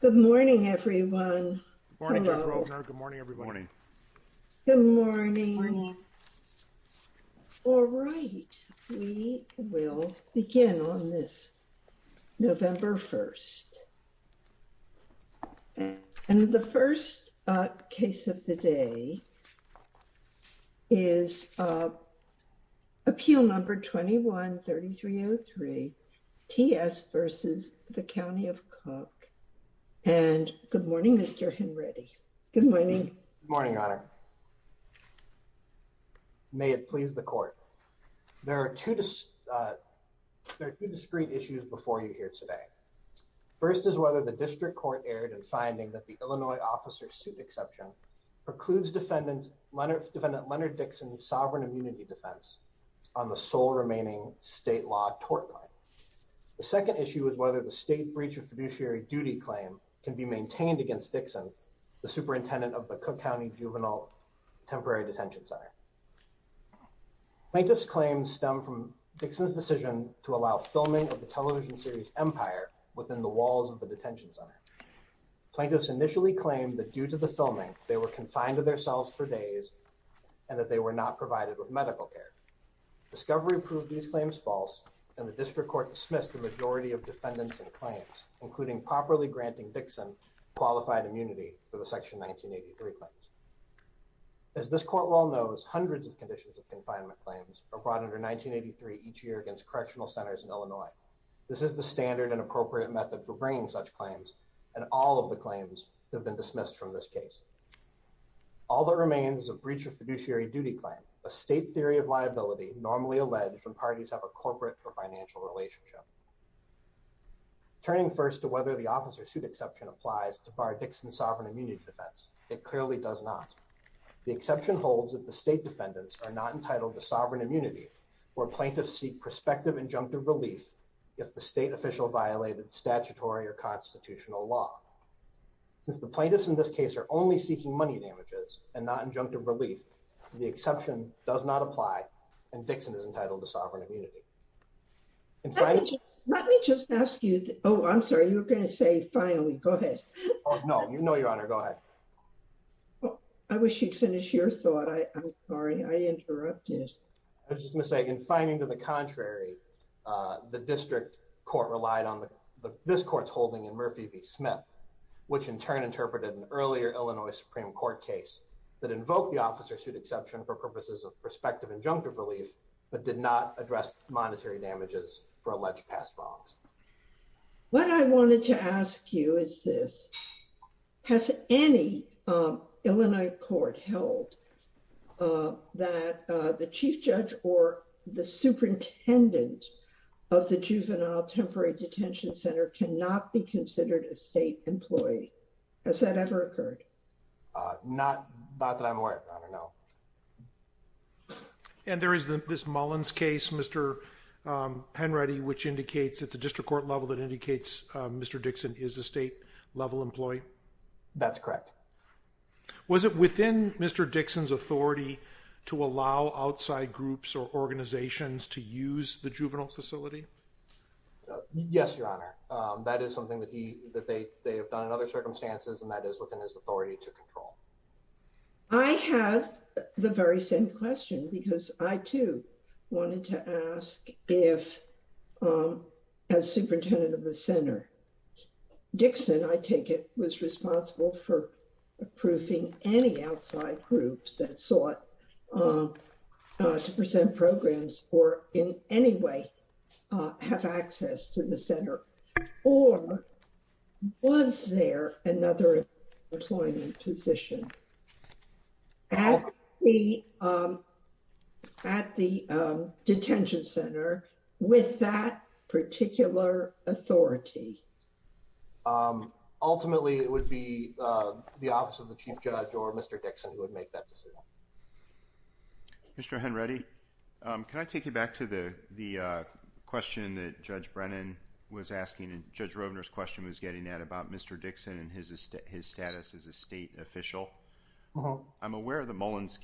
Good morning, everyone. Good morning, everyone. Good morning. All right, we will begin on this November 1st. And the first case of the day is Appeal Number 21-3303, T.S. v. County of Cook. And good morning, Mr. Henready. Good morning. Good morning, Your Honor. May it please the Court. There are two discrete issues before you here today. First is whether the District Court erred in finding that the Illinois officer suit exception precludes Defendant Leonard Dixon's sovereign immunity defense on the sole remaining state law tort claim. The second issue is whether the state breach of fiduciary duty claim can be maintained against Dixon, the superintendent of the Cook County Juvenile Temporary Detention Center. Plaintiffs' claims stem from Dixon's decision to allow filming of the television series Empire within the walls of the detention center. Plaintiffs initially claimed that due to the filming, they were confined to their cells for days and that they were not provided with medical care. Discovery proved these claims false, and the District Court dismissed the majority of defendants' claims, including properly granting Dixon qualified immunity for the Section 1983 claims. As this Court well knows, hundreds of conditions of confinement claims are brought under 1983 each year against correctional centers in Illinois. This is the standard and appropriate method for bringing such claims, and all of the claims have been dismissed from this case. All that remains is a breach of fiduciary duty claim, a state theory of liability normally alleged when parties have a corporate or financial relationship. Turning first to whether the officer suit exception applies to bar Dixon's sovereign immunity defense, it clearly does not. The exception holds that the state defendants are not entitled to sovereign immunity, where plaintiffs seek prospective injunctive relief if the state official violated statutory or constitutional law. Since the plaintiffs in this case are only seeking money damages and not injunctive relief, the exception does not apply, and Dixon is entitled to sovereign immunity. Let me just ask you, oh I'm sorry, you were going to say finally, go ahead. Oh no, you know your honor, go ahead. I wish you'd finish your thought, I'm sorry, I interrupted. I was just going to say, in finding to the contrary, the District Court relied on this Court's holding in Murphy v. Smith, which in turn interpreted an earlier Illinois Supreme Court case that invoked the officer suit exception for purposes of prospective injunctive relief, but did not address monetary damages for alleged past wrongs. What I wanted to ask you is this, has any Illinois court held that the chief judge or the superintendent of the Juvenile Temporary Detention Center cannot be considered a state employee? Has that ever occurred? Not that I'm aware of, I don't know. And there is this Mullins case, Mr. Henready, which indicates, it's a district court level that indicates Mr. Dixon is a state level employee? That's correct. Was it within Mr. Dixon's authority to allow outside groups or organizations to use the juvenile facility? Yes, your honor, that is something that they have done in other circumstances, and that is within his authority to control. I have the very same question because I too wanted to ask if, as superintendent of the center, Dixon, I take it, was responsible for approving any outside groups that sought to present programs or in any way have access to the center. Or was there another employment position at the detention center with that particular authority? Ultimately, it would be the office of the chief judge or Mr. Dixon who would make that decision. Mr. Henready, can I take you back to the question that Judge Brennan was asking and Judge Rovner's question was getting at about Mr. Dixon and his status as a state official? Uh-huh. I'm aware of the Mullins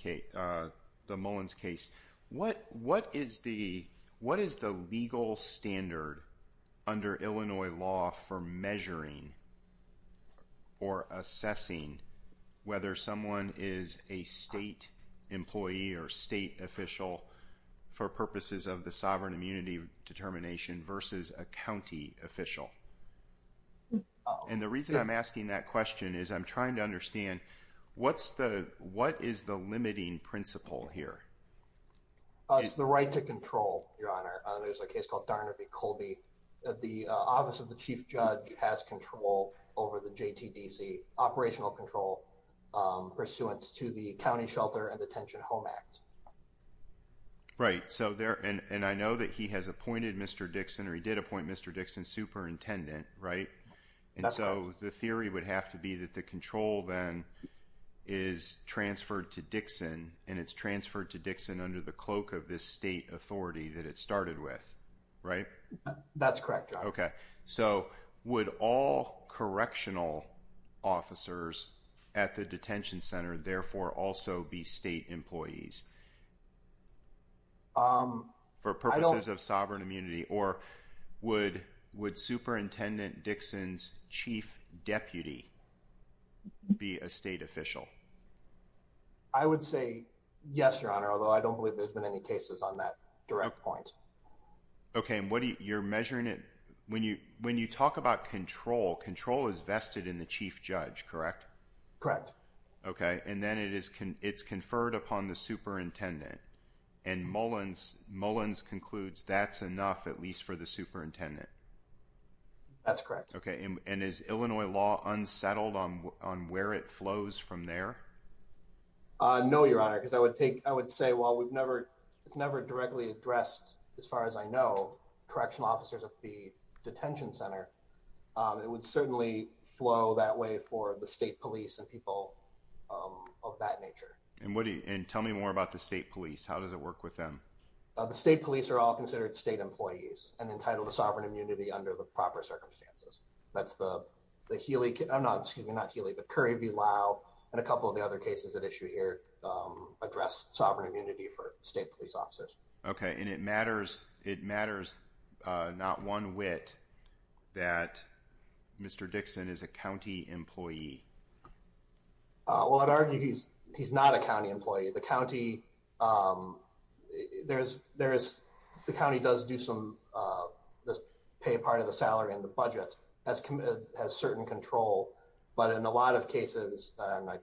case. What is the legal standard under Illinois law for measuring or assessing whether someone is a state employee or state official for purposes of the sovereign immunity determination versus a county official? And the reason I'm asking that question is I'm trying to understand what is the limiting principle here? It's the right to control, your honor. There's a case called Darner v. Colby. The office of the chief judge has control over the JTDC operational control pursuant to the County Shelter and Detention Home Act. Right. And I know that he has appointed Mr. Dixon or he did appoint Mr. Dixon superintendent, right? And so the theory would have to be that the control then is transferred to Dixon and it's transferred to Dixon under the cloak of this state authority that it started with, right? That's correct, your honor. So would all correctional officers at the detention center therefore also be state employees for purposes of sovereign immunity? Or would Superintendent Dixon's chief deputy be a state official? I would say yes, your honor, although I don't believe there's been any cases on that direct point. Okay. And what you're measuring it when you when you talk about control, control is vested in the chief judge, correct? Correct. Okay. And then it is it's conferred upon the superintendent and Mullins Mullins concludes that's enough, at least for the superintendent. That's correct. Okay. And is Illinois law unsettled on where it flows from there? No, your honor, because I would take I would say, well, we've never it's never directly addressed. As far as I know, correctional officers at the detention center, it would certainly flow that way for the state police and people of that nature. And what do you and tell me more about the state police? How does it work with them? The state police are all considered state employees and entitled to sovereign immunity under the proper circumstances. That's the the Healy. I'm not excuse me, not Healy, but Currie v. Lau and a couple of the other cases at issue here address sovereign immunity for state police officers. Okay. And it matters. It matters. Not one wit that Mr. Dixon is a county employee. Well, I'd argue he's he's not a county employee. The county there is there is the county does do some pay part of the salary and the budget has has certain control. But in a lot of cases, I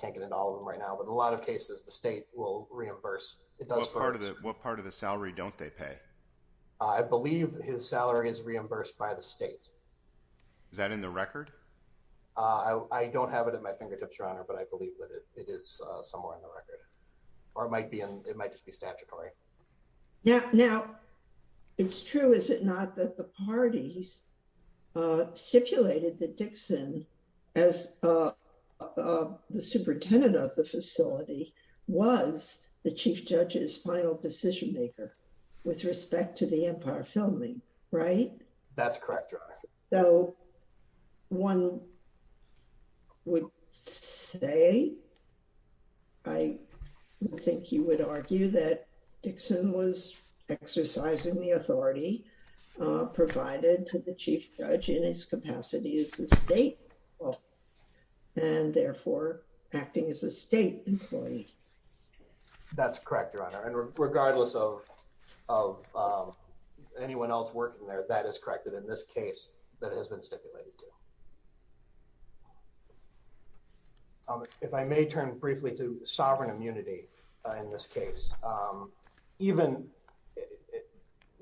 can't get it all right now, but a lot of cases the state will reimburse. It does. Part of it. What part of the salary don't they pay? I believe his salary is reimbursed by the state. Is that in the record? I don't have it at my fingertips, Your Honor, but I believe that it is somewhere in the record or it might be. It might just be statutory. Yeah. Now, it's true, is it not, that the parties stipulated that Dixon, as the superintendent of the facility, was the chief judge's final decision maker with respect to the Empire filming. Right. That's correct. So, one would say, I think you would argue that Dixon was exercising the authority provided to the chief judge in his capacity as the state. And therefore, acting as a state employee. That's correct, Your Honor. And regardless of anyone else working there, that is corrected in this case that has been stipulated. If I may turn briefly to sovereign immunity in this case, even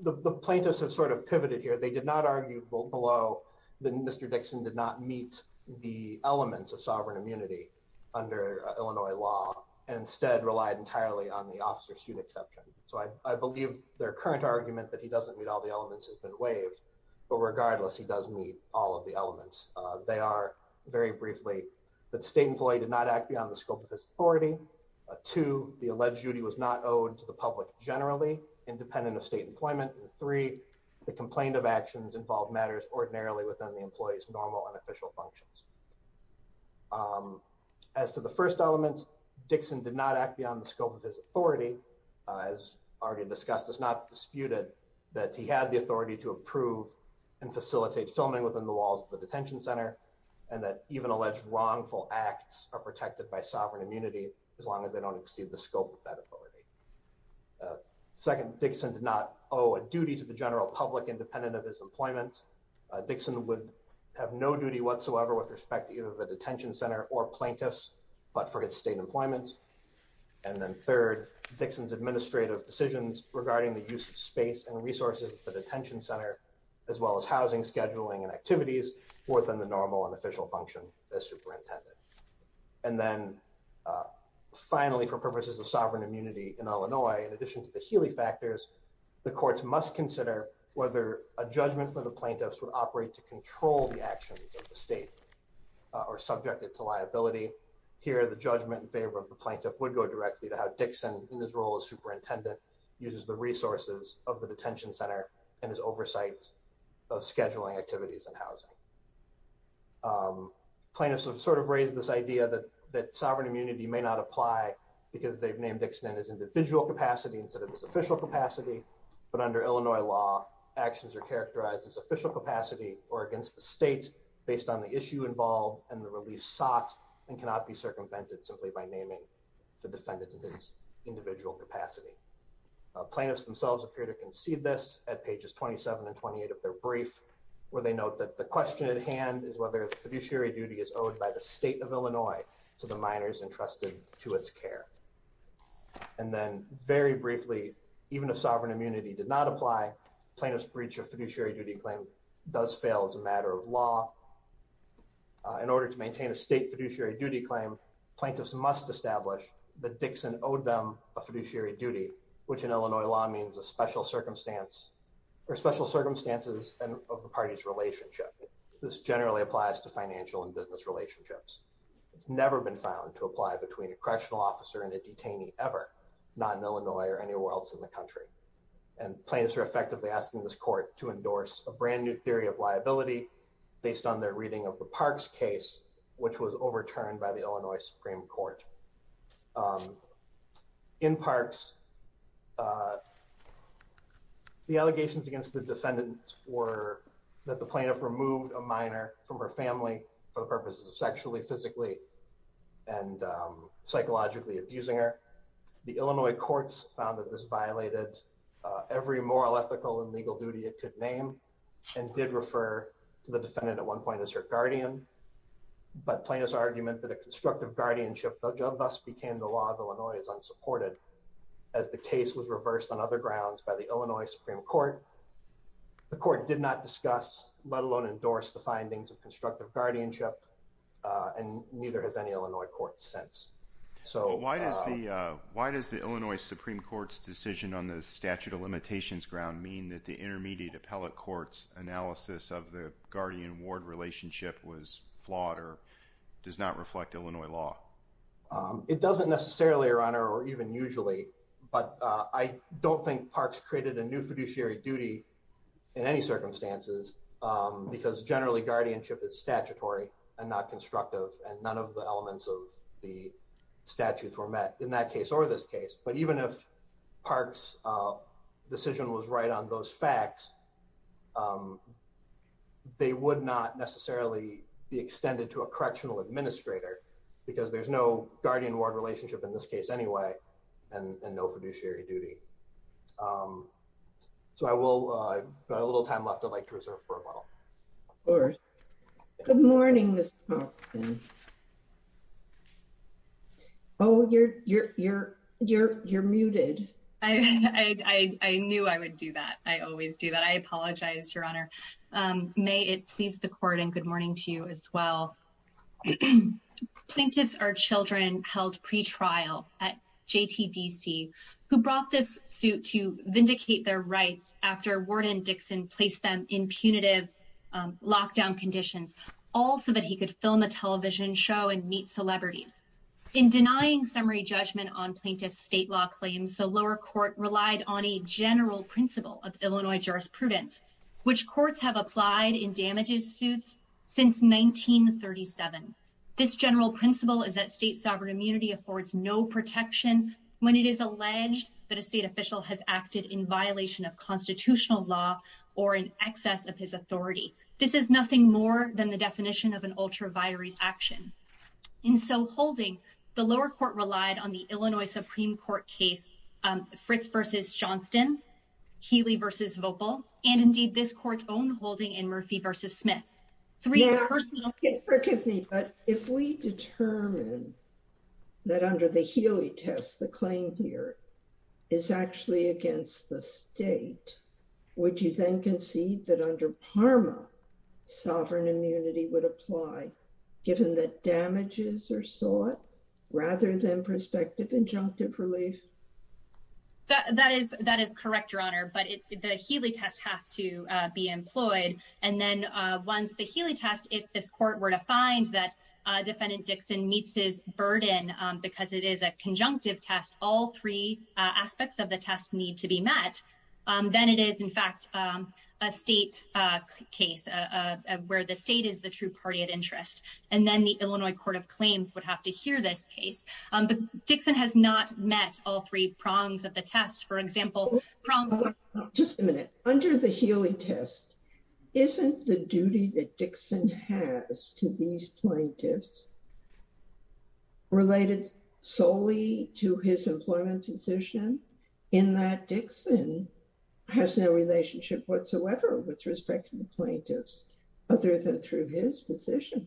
the plaintiffs have sort of pivoted here. They did not argue below that Mr. Dixon did not meet the elements of sovereign immunity under Illinois law and instead relied entirely on the officer student exception. So, I believe their current argument that he doesn't meet all the elements has been waived. But regardless, he does meet all of the elements. They are, very briefly, that state employee did not act beyond the scope of his authority. Two, the alleged duty was not owed to the public generally, independent of state employment. And three, the complaint of actions involved matters ordinarily within the employee's normal and official functions. As to the first element, Dixon did not act beyond the scope of his authority. As already discussed, it's not disputed that he had the authority to approve and facilitate filming within the walls of the detention center. And that even alleged wrongful acts are protected by sovereign immunity, as long as they don't exceed the scope of that authority. Second, Dixon did not owe a duty to the general public, independent of his employment. Dixon would have no duty whatsoever with respect to either the detention center or plaintiffs, but for his state employment. And then third, Dixon's administrative decisions regarding the use of space and resources for the detention center, as well as housing scheduling and activities, were within the normal and official function as superintendent. And then finally, for purposes of sovereign immunity in Illinois, in addition to the Healy factors, the courts must consider whether a judgment for the plaintiffs would operate to control the actions of the state or subject it to liability. Here, the judgment in favor of the plaintiff would go directly to how Dixon, in his role as superintendent, uses the resources of the detention center and his oversight of scheduling activities and housing. Plaintiffs have sort of raised this idea that sovereign immunity may not apply because they've named Dixon in his individual capacity instead of his official capacity. But under Illinois law, actions are characterized as official capacity or against the state based on the issue involved and the relief sought and cannot be circumvented simply by naming the defendant in his individual capacity. Plaintiffs themselves appear to concede this at pages 27 and 28 of their brief, where they note that the question at hand is whether a fiduciary duty is owed by the state of Illinois to the minors entrusted to its care. And then, very briefly, even if sovereign immunity did not apply, plaintiff's breach of fiduciary duty claim does fail as a matter of law. In order to maintain a state fiduciary duty claim, plaintiffs must establish that Dixon owed them a fiduciary duty, which in Illinois law means a special circumstance or special circumstances of the party's relationship. This generally applies to financial and business relationships. It's never been found to apply between a correctional officer and a detainee ever, not in Illinois or anywhere else in the country. And plaintiffs are effectively asking this court to endorse a brand new theory of liability based on their reading of the Parks case, which was overturned by the Illinois Supreme Court. In Parks, the allegations against the defendant were that the plaintiff removed a minor from her family for the purposes of sexually, physically, and psychologically abusing her. The Illinois courts found that this violated every moral, ethical, and legal duty it could name, and did refer to the defendant at one point as her guardian. But plaintiff's argument that a constructive guardianship thus became the law of Illinois is unsupported, as the case was reversed on other grounds by the Illinois Supreme Court. The court did not discuss, let alone endorse, the findings of constructive guardianship, and neither has any Illinois court since. Why does the Illinois Supreme Court's decision on the statute of limitations ground mean that the intermediate appellate court's analysis of the guardian-ward relationship was flawed or does not reflect Illinois law? It doesn't necessarily, Your Honor, or even usually, but I don't think Parks created a new fiduciary duty in any circumstances, because generally guardianship is statutory and not constructive, and none of the elements of the statutes were met in that case or this case. But even if Parks' decision was right on those facts, they would not necessarily be extended to a correctional administrator, because there's no guardian-ward relationship in this case anyway, and no fiduciary duty. So I will, I've got a little time left I'd like to reserve for rebuttal. Good morning. Oh, you're muted. I knew I would do that. I always do that. I apologize, Your Honor. May it please the court and good morning to you as well. Plaintiffs are children held pretrial at JTDC who brought this suit to vindicate their rights after Warden Dixon placed them in punitive lockdown conditions, all so that he could film a television show and meet celebrities. In denying summary judgment on plaintiff's state law claims, the lower court relied on a general principle of Illinois jurisprudence, which courts have applied in damages suits since 1937. This general principle is that state sovereign immunity affords no protection when it is alleged that a state official has acted in violation of constitutional law or in excess of his authority. This is nothing more than the definition of an ultra vires action. In so holding the lower court relied on the Illinois Supreme Court case Fritz versus Johnston Healy versus vocal, and indeed this court's own holding and Murphy versus Smith. Forgive me, but if we determine that under the Healy test the claim here is actually against the state. Would you then concede that under Parma sovereign immunity would apply, given that damages are sought, rather than prospective injunctive relief. That is that is correct your honor but the Healy test has to be employed, and then once the Healy test if this court were to find that defendant Dixon meets his burden, because it is a conjunctive test all three aspects of the test need to be met. Then it is in fact a state case of where the state is the true party at interest, and then the Illinois Court of Claims would have to hear this case, but Dixon has not met all three prongs of the test for example. Just a minute under the Healy test isn't the duty that Dixon has to these plaintiffs related solely to his employment position in that Dixon has no relationship whatsoever with respect to the plaintiffs, other than through his position.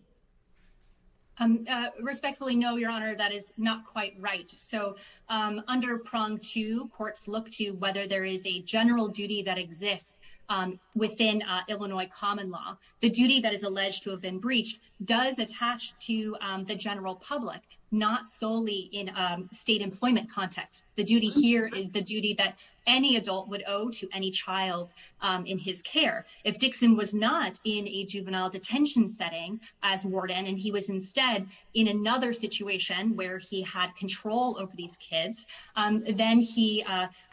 Respectfully know your honor that is not quite right so under prong to courts look to whether there is a general duty that exists within Illinois common law, the duty that is alleged to have been breached does attach to the general public, not solely in state employment context, the duty here is the duty that any adult would owe to any child in his care. If Dixon was not in a juvenile detention setting as warden and he was instead in another situation where he had control over these kids, then he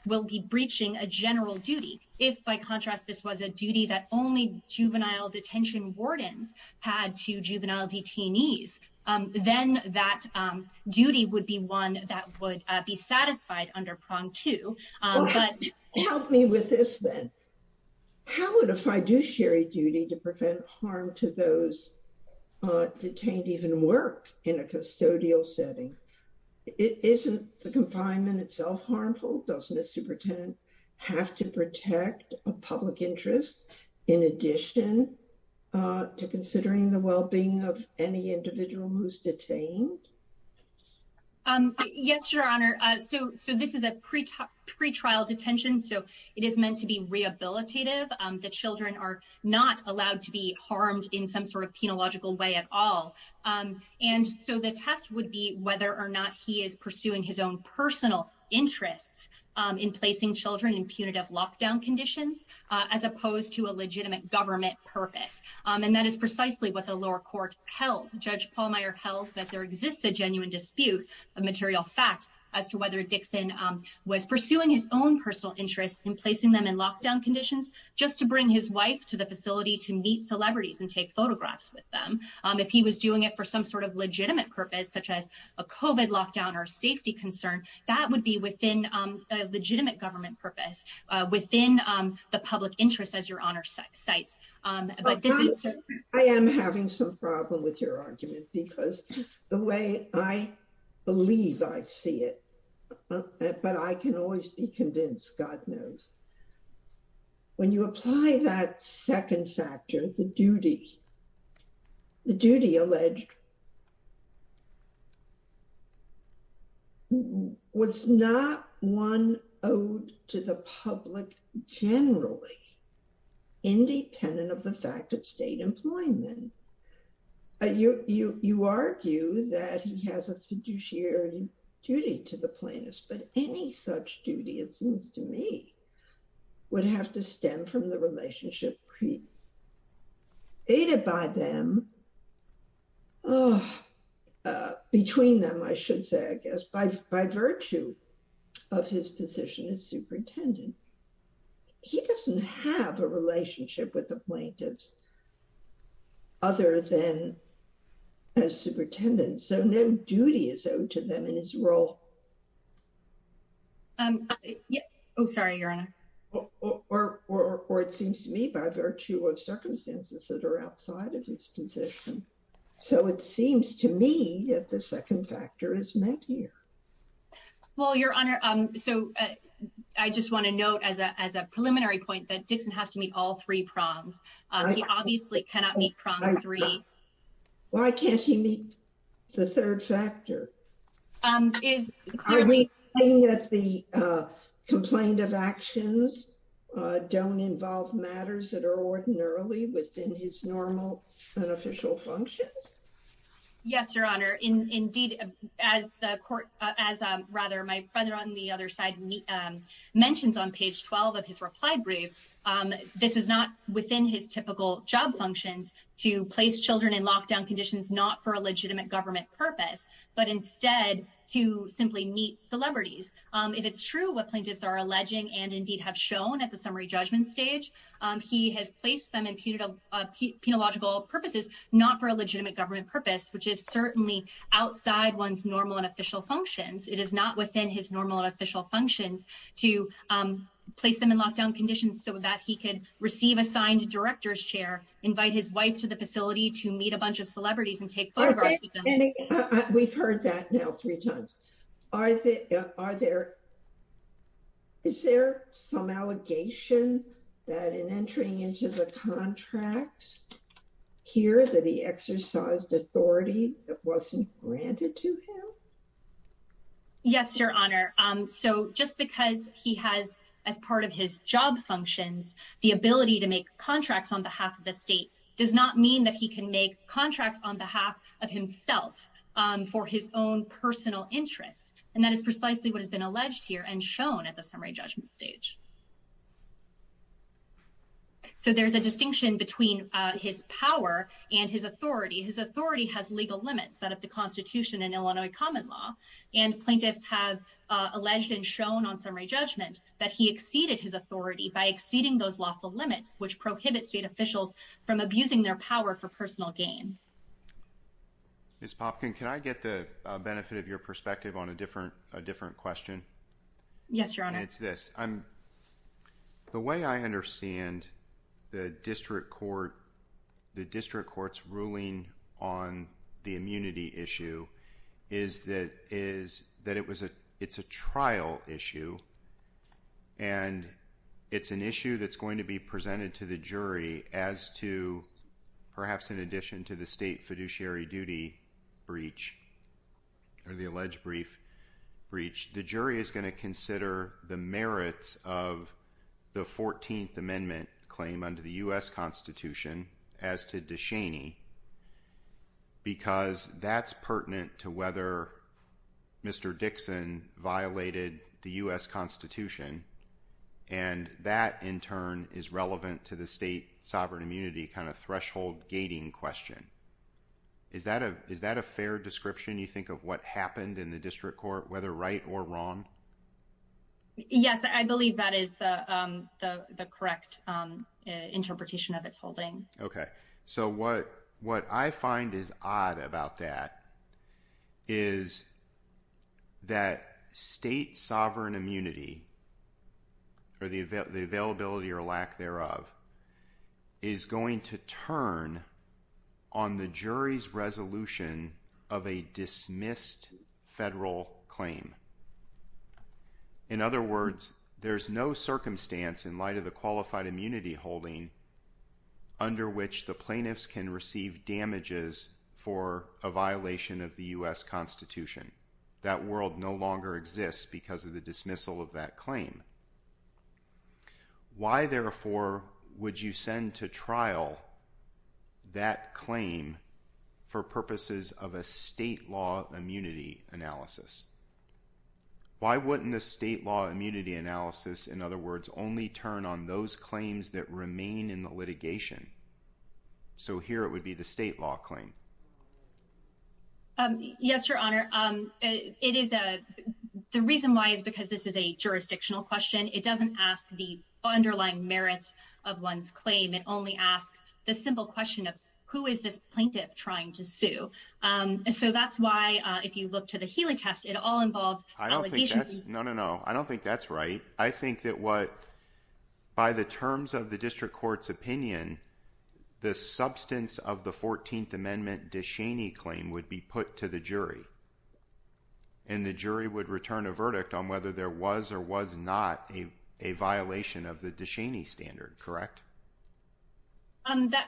will be breaching a general duty, if by contrast this was a duty that only juvenile detention wardens had to juvenile detainees, then that duty would be one that would be satisfied under prong to. Help me with this then. How would a fiduciary duty to prevent harm to those detained even work in a custodial setting. Isn't the confinement itself harmful doesn't a superintendent have to protect a public interest. In addition to considering the well being of any individual who's detained. Yes, your honor. So, so this is a pre pre trial detention so it is meant to be rehabilitative, the children are not allowed to be harmed in some sort of penological way at all. And so the test would be whether or not he is pursuing his own personal interests in placing children in punitive lockdown conditions, as opposed to a legitimate government purpose. And that is precisely what the lower court held judge Paul Meyer health that there exists a genuine dispute of material fact as to whether Dixon was pursuing his own personal interest in placing them in lockdown conditions, just to bring his wife to the facility to meet celebrities and take photographs with them. If he was doing it for some sort of legitimate purpose such as a coven lockdown or safety concern that would be within legitimate government purpose within the public interest as your honor sites. I am having some problem with your argument because the way I believe I see it. But I can always be convinced God knows. When you apply that second factor, the duty. The duty alleged was not one owed to the public, generally, independent of the fact that state employment, you, you argue that he has a fiduciary duty to the plaintiffs but any such duty, it seems to me, would have to stem from the relationship pre aided by them. Between them, I should say, I guess, by, by virtue of his position as superintendent. He doesn't have a relationship with the plaintiffs. Other than as superintendent so no duty is owed to them in his role. I'm sorry, your honor, or, or, or it seems to me by virtue of circumstances that are outside of his position. So it seems to me that the second factor is making. Well, your honor. So, I just want to note as a as a preliminary point that Dixon has to meet all three prongs. He obviously cannot meet three. Why can't he meet the third factor. Is the complaint of actions don't involve matters that are ordinarily within his normal official functions. Yes, your honor. Indeed, as the court, as a rather my brother on the other side. Mentions on page 12 of his reply brief. This is not within his typical job functions to place children in lockdown conditions, not for a legitimate government purpose, but instead to simply meet celebrities. If it's true what plaintiffs are alleging and indeed have shown at the summary judgment stage. He has placed them in punitive penological purposes, not for a legitimate government purpose, which is certainly outside one's normal and official functions. It is not within his normal official functions to place them in lockdown conditions so that he could receive assigned directors chair, invite his wife to the facility to meet a bunch of celebrities and take photographs. We've heard that now three times. Are there. Is there some allegation that in entering into the contracts here that he exercised authority that wasn't granted to him. Yes, your honor. So just because he has as part of his job functions, the ability to make contracts on behalf of the state does not mean that he can make contracts on behalf of himself for his own personal interests. And that is precisely what has been alleged here and shown at the summary judgment stage. So there's a distinction between his power and his authority. His authority has legal limits that of the Constitution and Illinois common law. And plaintiffs have alleged and shown on summary judgment that he exceeded his authority by exceeding those lawful limits, which prohibits state officials from abusing their power for personal gain. Miss Popkin, can I get the benefit of your perspective on a different a different question? Yes, your honor. And it's this I'm the way I understand the district court, the district court's ruling on the immunity issue is that is that it was a it's a trial issue. And it's an issue that's going to be presented to the jury as to perhaps in addition to the state fiduciary duty breach. Or the alleged brief breach, the jury is going to consider the merits of the 14th Amendment claim under the U.S. Constitution as to DeShaney. Because that's pertinent to whether Mr. Dixon violated the U.S. Constitution. And that in turn is relevant to the state sovereign immunity kind of threshold gating question. Is that a is that a fair description? You think of what happened in the district court, whether right or wrong? Yes, I believe that is the correct interpretation of its holding. OK, so what what I find is odd about that is. That state sovereign immunity. Or the availability or lack thereof. Is going to turn on the jury's resolution of a dismissed federal claim. In other words, there's no circumstance in light of the qualified immunity holding. Under which the plaintiffs can receive damages for a violation of the U.S. Constitution. That world no longer exists because of the dismissal of that claim. Why, therefore, would you send to trial that claim for purposes of a state law immunity analysis? Why wouldn't the state law immunity analysis, in other words, only turn on those claims that remain in the litigation? So here it would be the state law claim. Yes, your honor. It is. The reason why is because this is a jurisdictional question. It doesn't ask the underlying merits of one's claim. It only asks the simple question of who is this plaintiff trying to sue? So that's why if you look to the Healy test, it all involves. I don't think that's no, no, no. I don't think that's right. I think that what. By the terms of the district court's opinion. The substance of the 14th Amendment Dishaney claim would be put to the jury. And the jury would return a verdict on whether there was or was not a violation of the Dishaney standard, correct?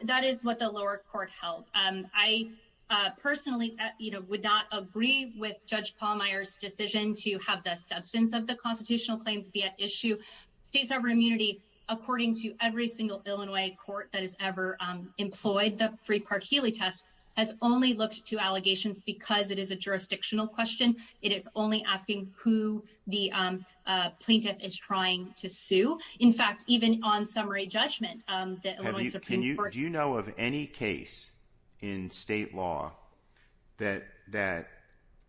That is what the lower court held. I personally would not agree with Judge Paul Meyer's decision to have the substance of the constitutional claims be at issue. States have immunity, according to every single Illinois court that has ever employed. The Free Park Healy test has only looked to allegations because it is a jurisdictional question. It is only asking who the plaintiff is trying to sue. In fact, even on summary judgment. Can you do you know of any case in state law that that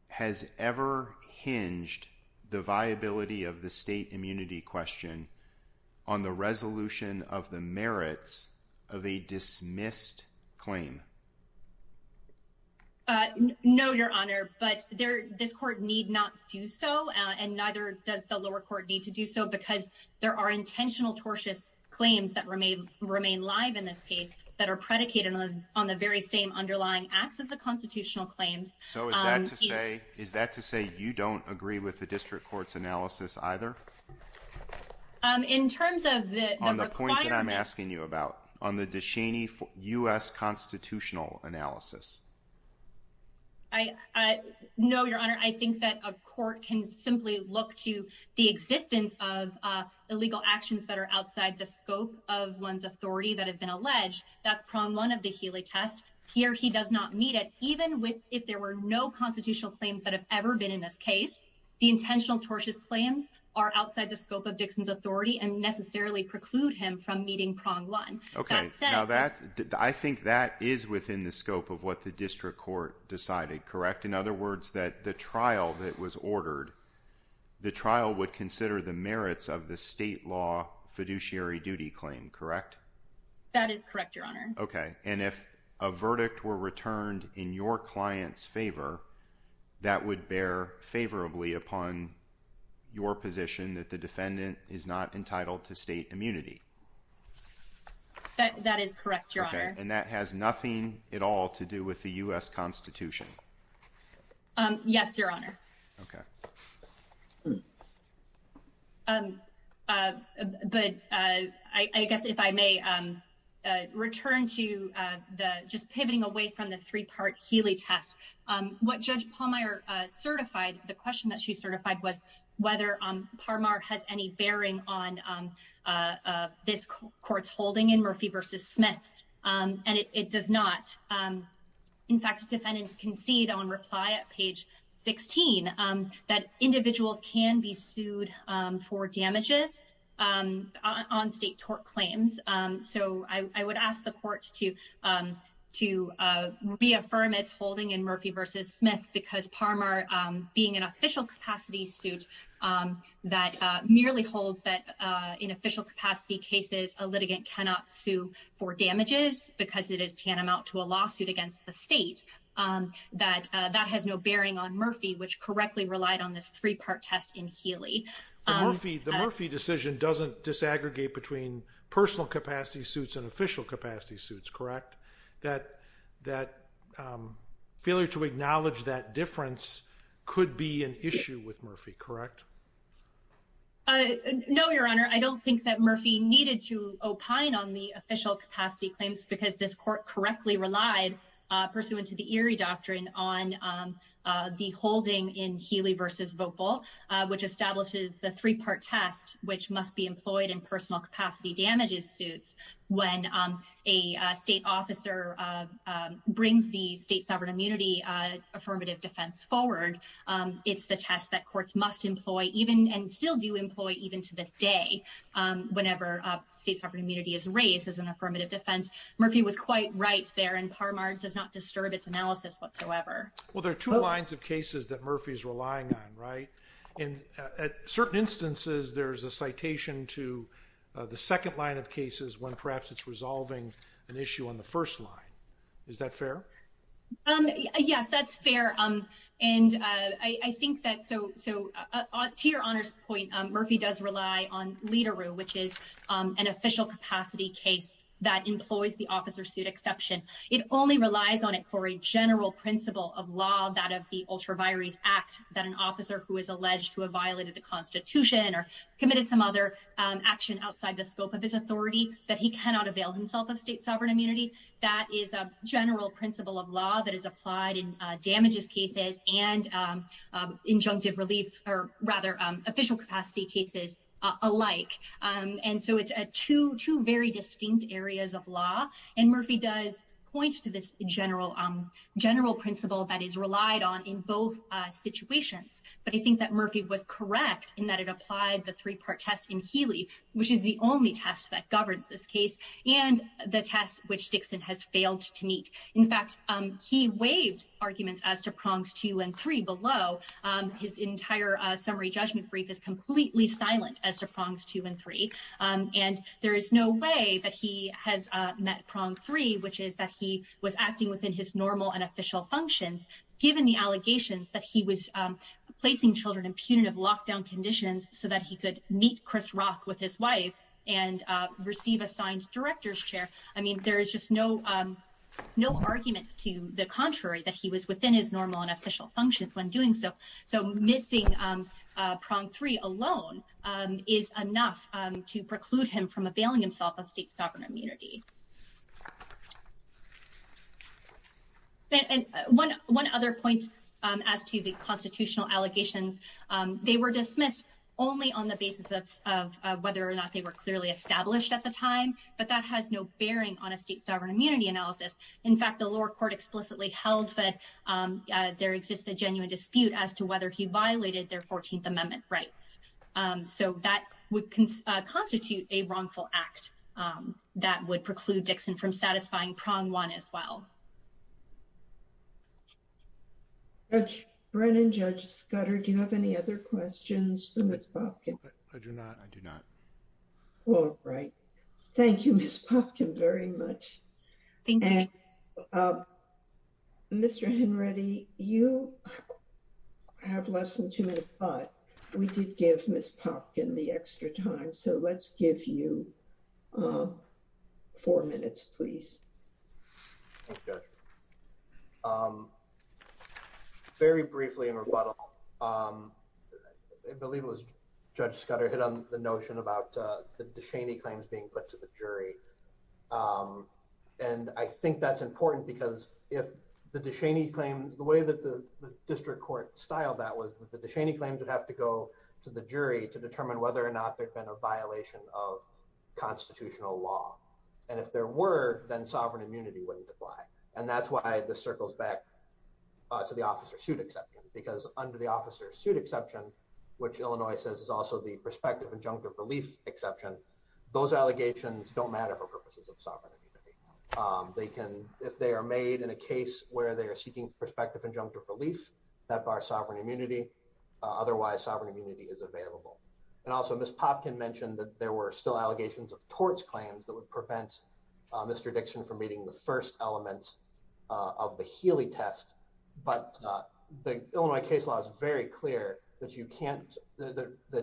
has ever hinged the viability of the state immunity question on the resolution of the merits of a dismissed claim? No, Your Honor, but there this court need not do so. And neither does the lower court need to do so because there are intentional tortious claims that remain remain live in this case that are predicated on the very same underlying acts of the constitutional claims. So is that to say is that to say you don't agree with the district court's analysis either? In terms of the on the point that I'm asking you about on the Deshaney for US constitutional analysis. I know, Your Honor, I think that a court can simply look to the existence of illegal actions that are outside the scope of one's authority that have been alleged. That's prong one of the Healy test here. He does not meet it. Even with if there were no constitutional claims that have ever been in this case, the intentional tortious claims are outside the scope of Dixon's authority and necessarily preclude him from meeting prong one. Okay, so that I think that is within the scope of what the district court decided. Correct. In other words, that the trial that was ordered the trial would consider the merits of the state law fiduciary duty claim. Correct. That is correct, Your Honor. Okay. And if a verdict were returned in your client's favor, that would bear favorably upon your position that the defendant is not entitled to state immunity. That is correct, Your Honor. And that has nothing at all to do with the US Constitution. Yes, Your Honor. Okay. Hmm. But I guess if I may return to the just pivoting away from the three part Healy test, what Judge Palmer certified, the question that she certified was whether Parmar has any bearing on this court's holding in Murphy versus Smith. And it does not. In fact, defendants concede on reply at page 16 that individuals can be sued for damages on state tort claims. So I would ask the court to to reaffirm its holding in Murphy versus Smith because Parmar being an official capacity suit that merely holds that in official capacity cases, a litigant cannot sue for damages because it is tantamount to a lawsuit against the state that that has no bearing on Murphy, which correctly relied on this three part test in Healy. The Murphy decision doesn't disaggregate between personal capacity suits and official capacity suits, correct? That that failure to acknowledge that difference could be an issue with Murphy, correct? No, Your Honor. I don't think that Murphy needed to opine on the official capacity claims because this court correctly relied pursuant to the Erie doctrine on the holding in Healy versus vocal, which establishes the three part test, which must be employed in personal capacity damages suits. When a state officer brings the state sovereign immunity affirmative defense forward, it's the test that courts must employ even and still do employ even to this day. Whenever state sovereign immunity is raised as an affirmative defense, Murphy was quite right there and Parmar does not disturb its analysis whatsoever. Well, there are two lines of cases that Murphy is relying on, right? In certain instances, there's a citation to the second line of cases when perhaps it's resolving an issue on the first line. Is that fair? Yes, that's fair. To Your Honor's point, Murphy does rely on LIDERU, which is an official capacity case that employs the officer suit exception. It only relies on it for a general principle of law, that of the Ultra Vires Act, that an officer who is alleged to have violated the Constitution or committed some other action outside the scope of his authority, that he cannot avail himself of state sovereign immunity. That is a general principle of law that is applied in damages cases and injunctive relief or rather official capacity cases alike. And so it's two very distinct areas of law. And Murphy does point to this general principle that is relied on in both situations. But I think that Murphy was correct in that it applied the three-part test in Healy, which is the only test that governs this case, and the test which Dixon has failed to meet. In fact, he waived arguments as to prongs two and three below. His entire summary judgment brief is completely silent as to prongs two and three. And there is no way that he has met prong three, which is that he was acting within his normal and official functions, given the allegations that he was placing children in punitive lockdown conditions so that he could meet Chris Rock with his wife and receive assigned director's chair. I mean, there is just no argument to the contrary that he was within his normal and official functions when doing so. So missing prong three alone is enough to preclude him from availing himself of state sovereign immunity. And one other point as to the constitutional allegations, they were dismissed only on the basis of whether or not they were clearly established at the time. But that has no bearing on a state sovereign immunity analysis. In fact, the lower court explicitly held that there exists a genuine dispute as to whether he violated their 14th Amendment rights. So that would constitute a wrongful act that would preclude Dixon from satisfying prong one as well. Judge Brennan, Judge Scudder, do you have any other questions for Ms. Popkin? I do not. I do not. All right. Thank you, Ms. Popkin, very much. Thank you. Mr. Henready, you have less than two minutes, but we did give Ms. Popkin the extra time. So let's give you four minutes, please. Thank you, Judge. Very briefly in rebuttal, I believe it was Judge Scudder hit on the notion about the DeShaney claims being put to the jury. And I think that's important because if the DeShaney claims, the way that the district court styled that was that the DeShaney claims would have to go to the jury to determine whether or not there had been a violation of constitutional law. And if there were, then sovereign immunity wouldn't apply. And that's why this circles back to the officer suit exception, because under the officer suit exception, which Illinois says is also the prospective injunctive relief exception, those allegations don't matter for purposes of sovereign immunity. They can, if they are made in a case where they are seeking prospective injunctive relief, that bars sovereign immunity. Otherwise, sovereign immunity is available. And also Ms. Popkin mentioned that there were still allegations of torts claims that would prevent Mr. Dixon from meeting the first elements of the Healy test. But the Illinois case law is very clear that the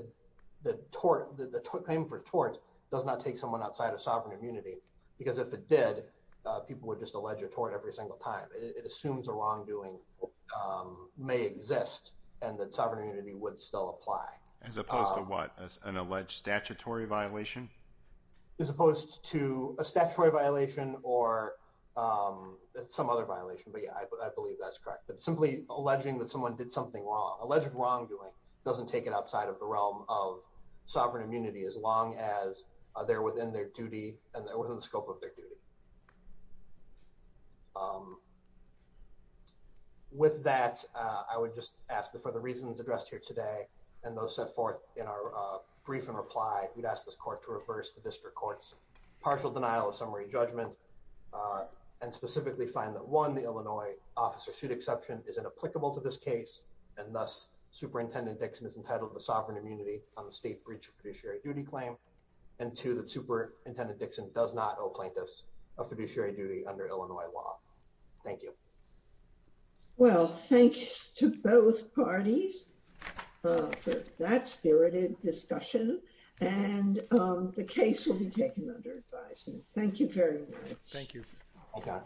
claim for torts does not take someone outside of sovereign immunity, because if it did, people would just allege a tort every single time. It assumes a wrongdoing may exist and that sovereign immunity would still apply. As opposed to what, an alleged statutory violation? As opposed to a statutory violation or some other violation. But yeah, I believe that's correct. But simply alleging that someone did something wrong, alleged wrongdoing, doesn't take it outside of the realm of sovereign immunity as long as they're within their duty and they're within the scope of their duty. With that, I would just ask that for the reasons addressed here today, and those set forth in our brief and reply, we'd ask this court to reverse the district court's partial denial of summary judgment. And specifically find that one, the Illinois officer suit exception is inapplicable to this case, and thus Superintendent Dixon is entitled to the sovereign immunity on the state breach of fiduciary duty claim. And two, that Superintendent Dixon does not owe plaintiffs a fiduciary duty under Illinois law. Thank you. Well, thanks to both parties for that spirited discussion. And the case will be taken under advisement. Thank you very much. Thank you. Okay.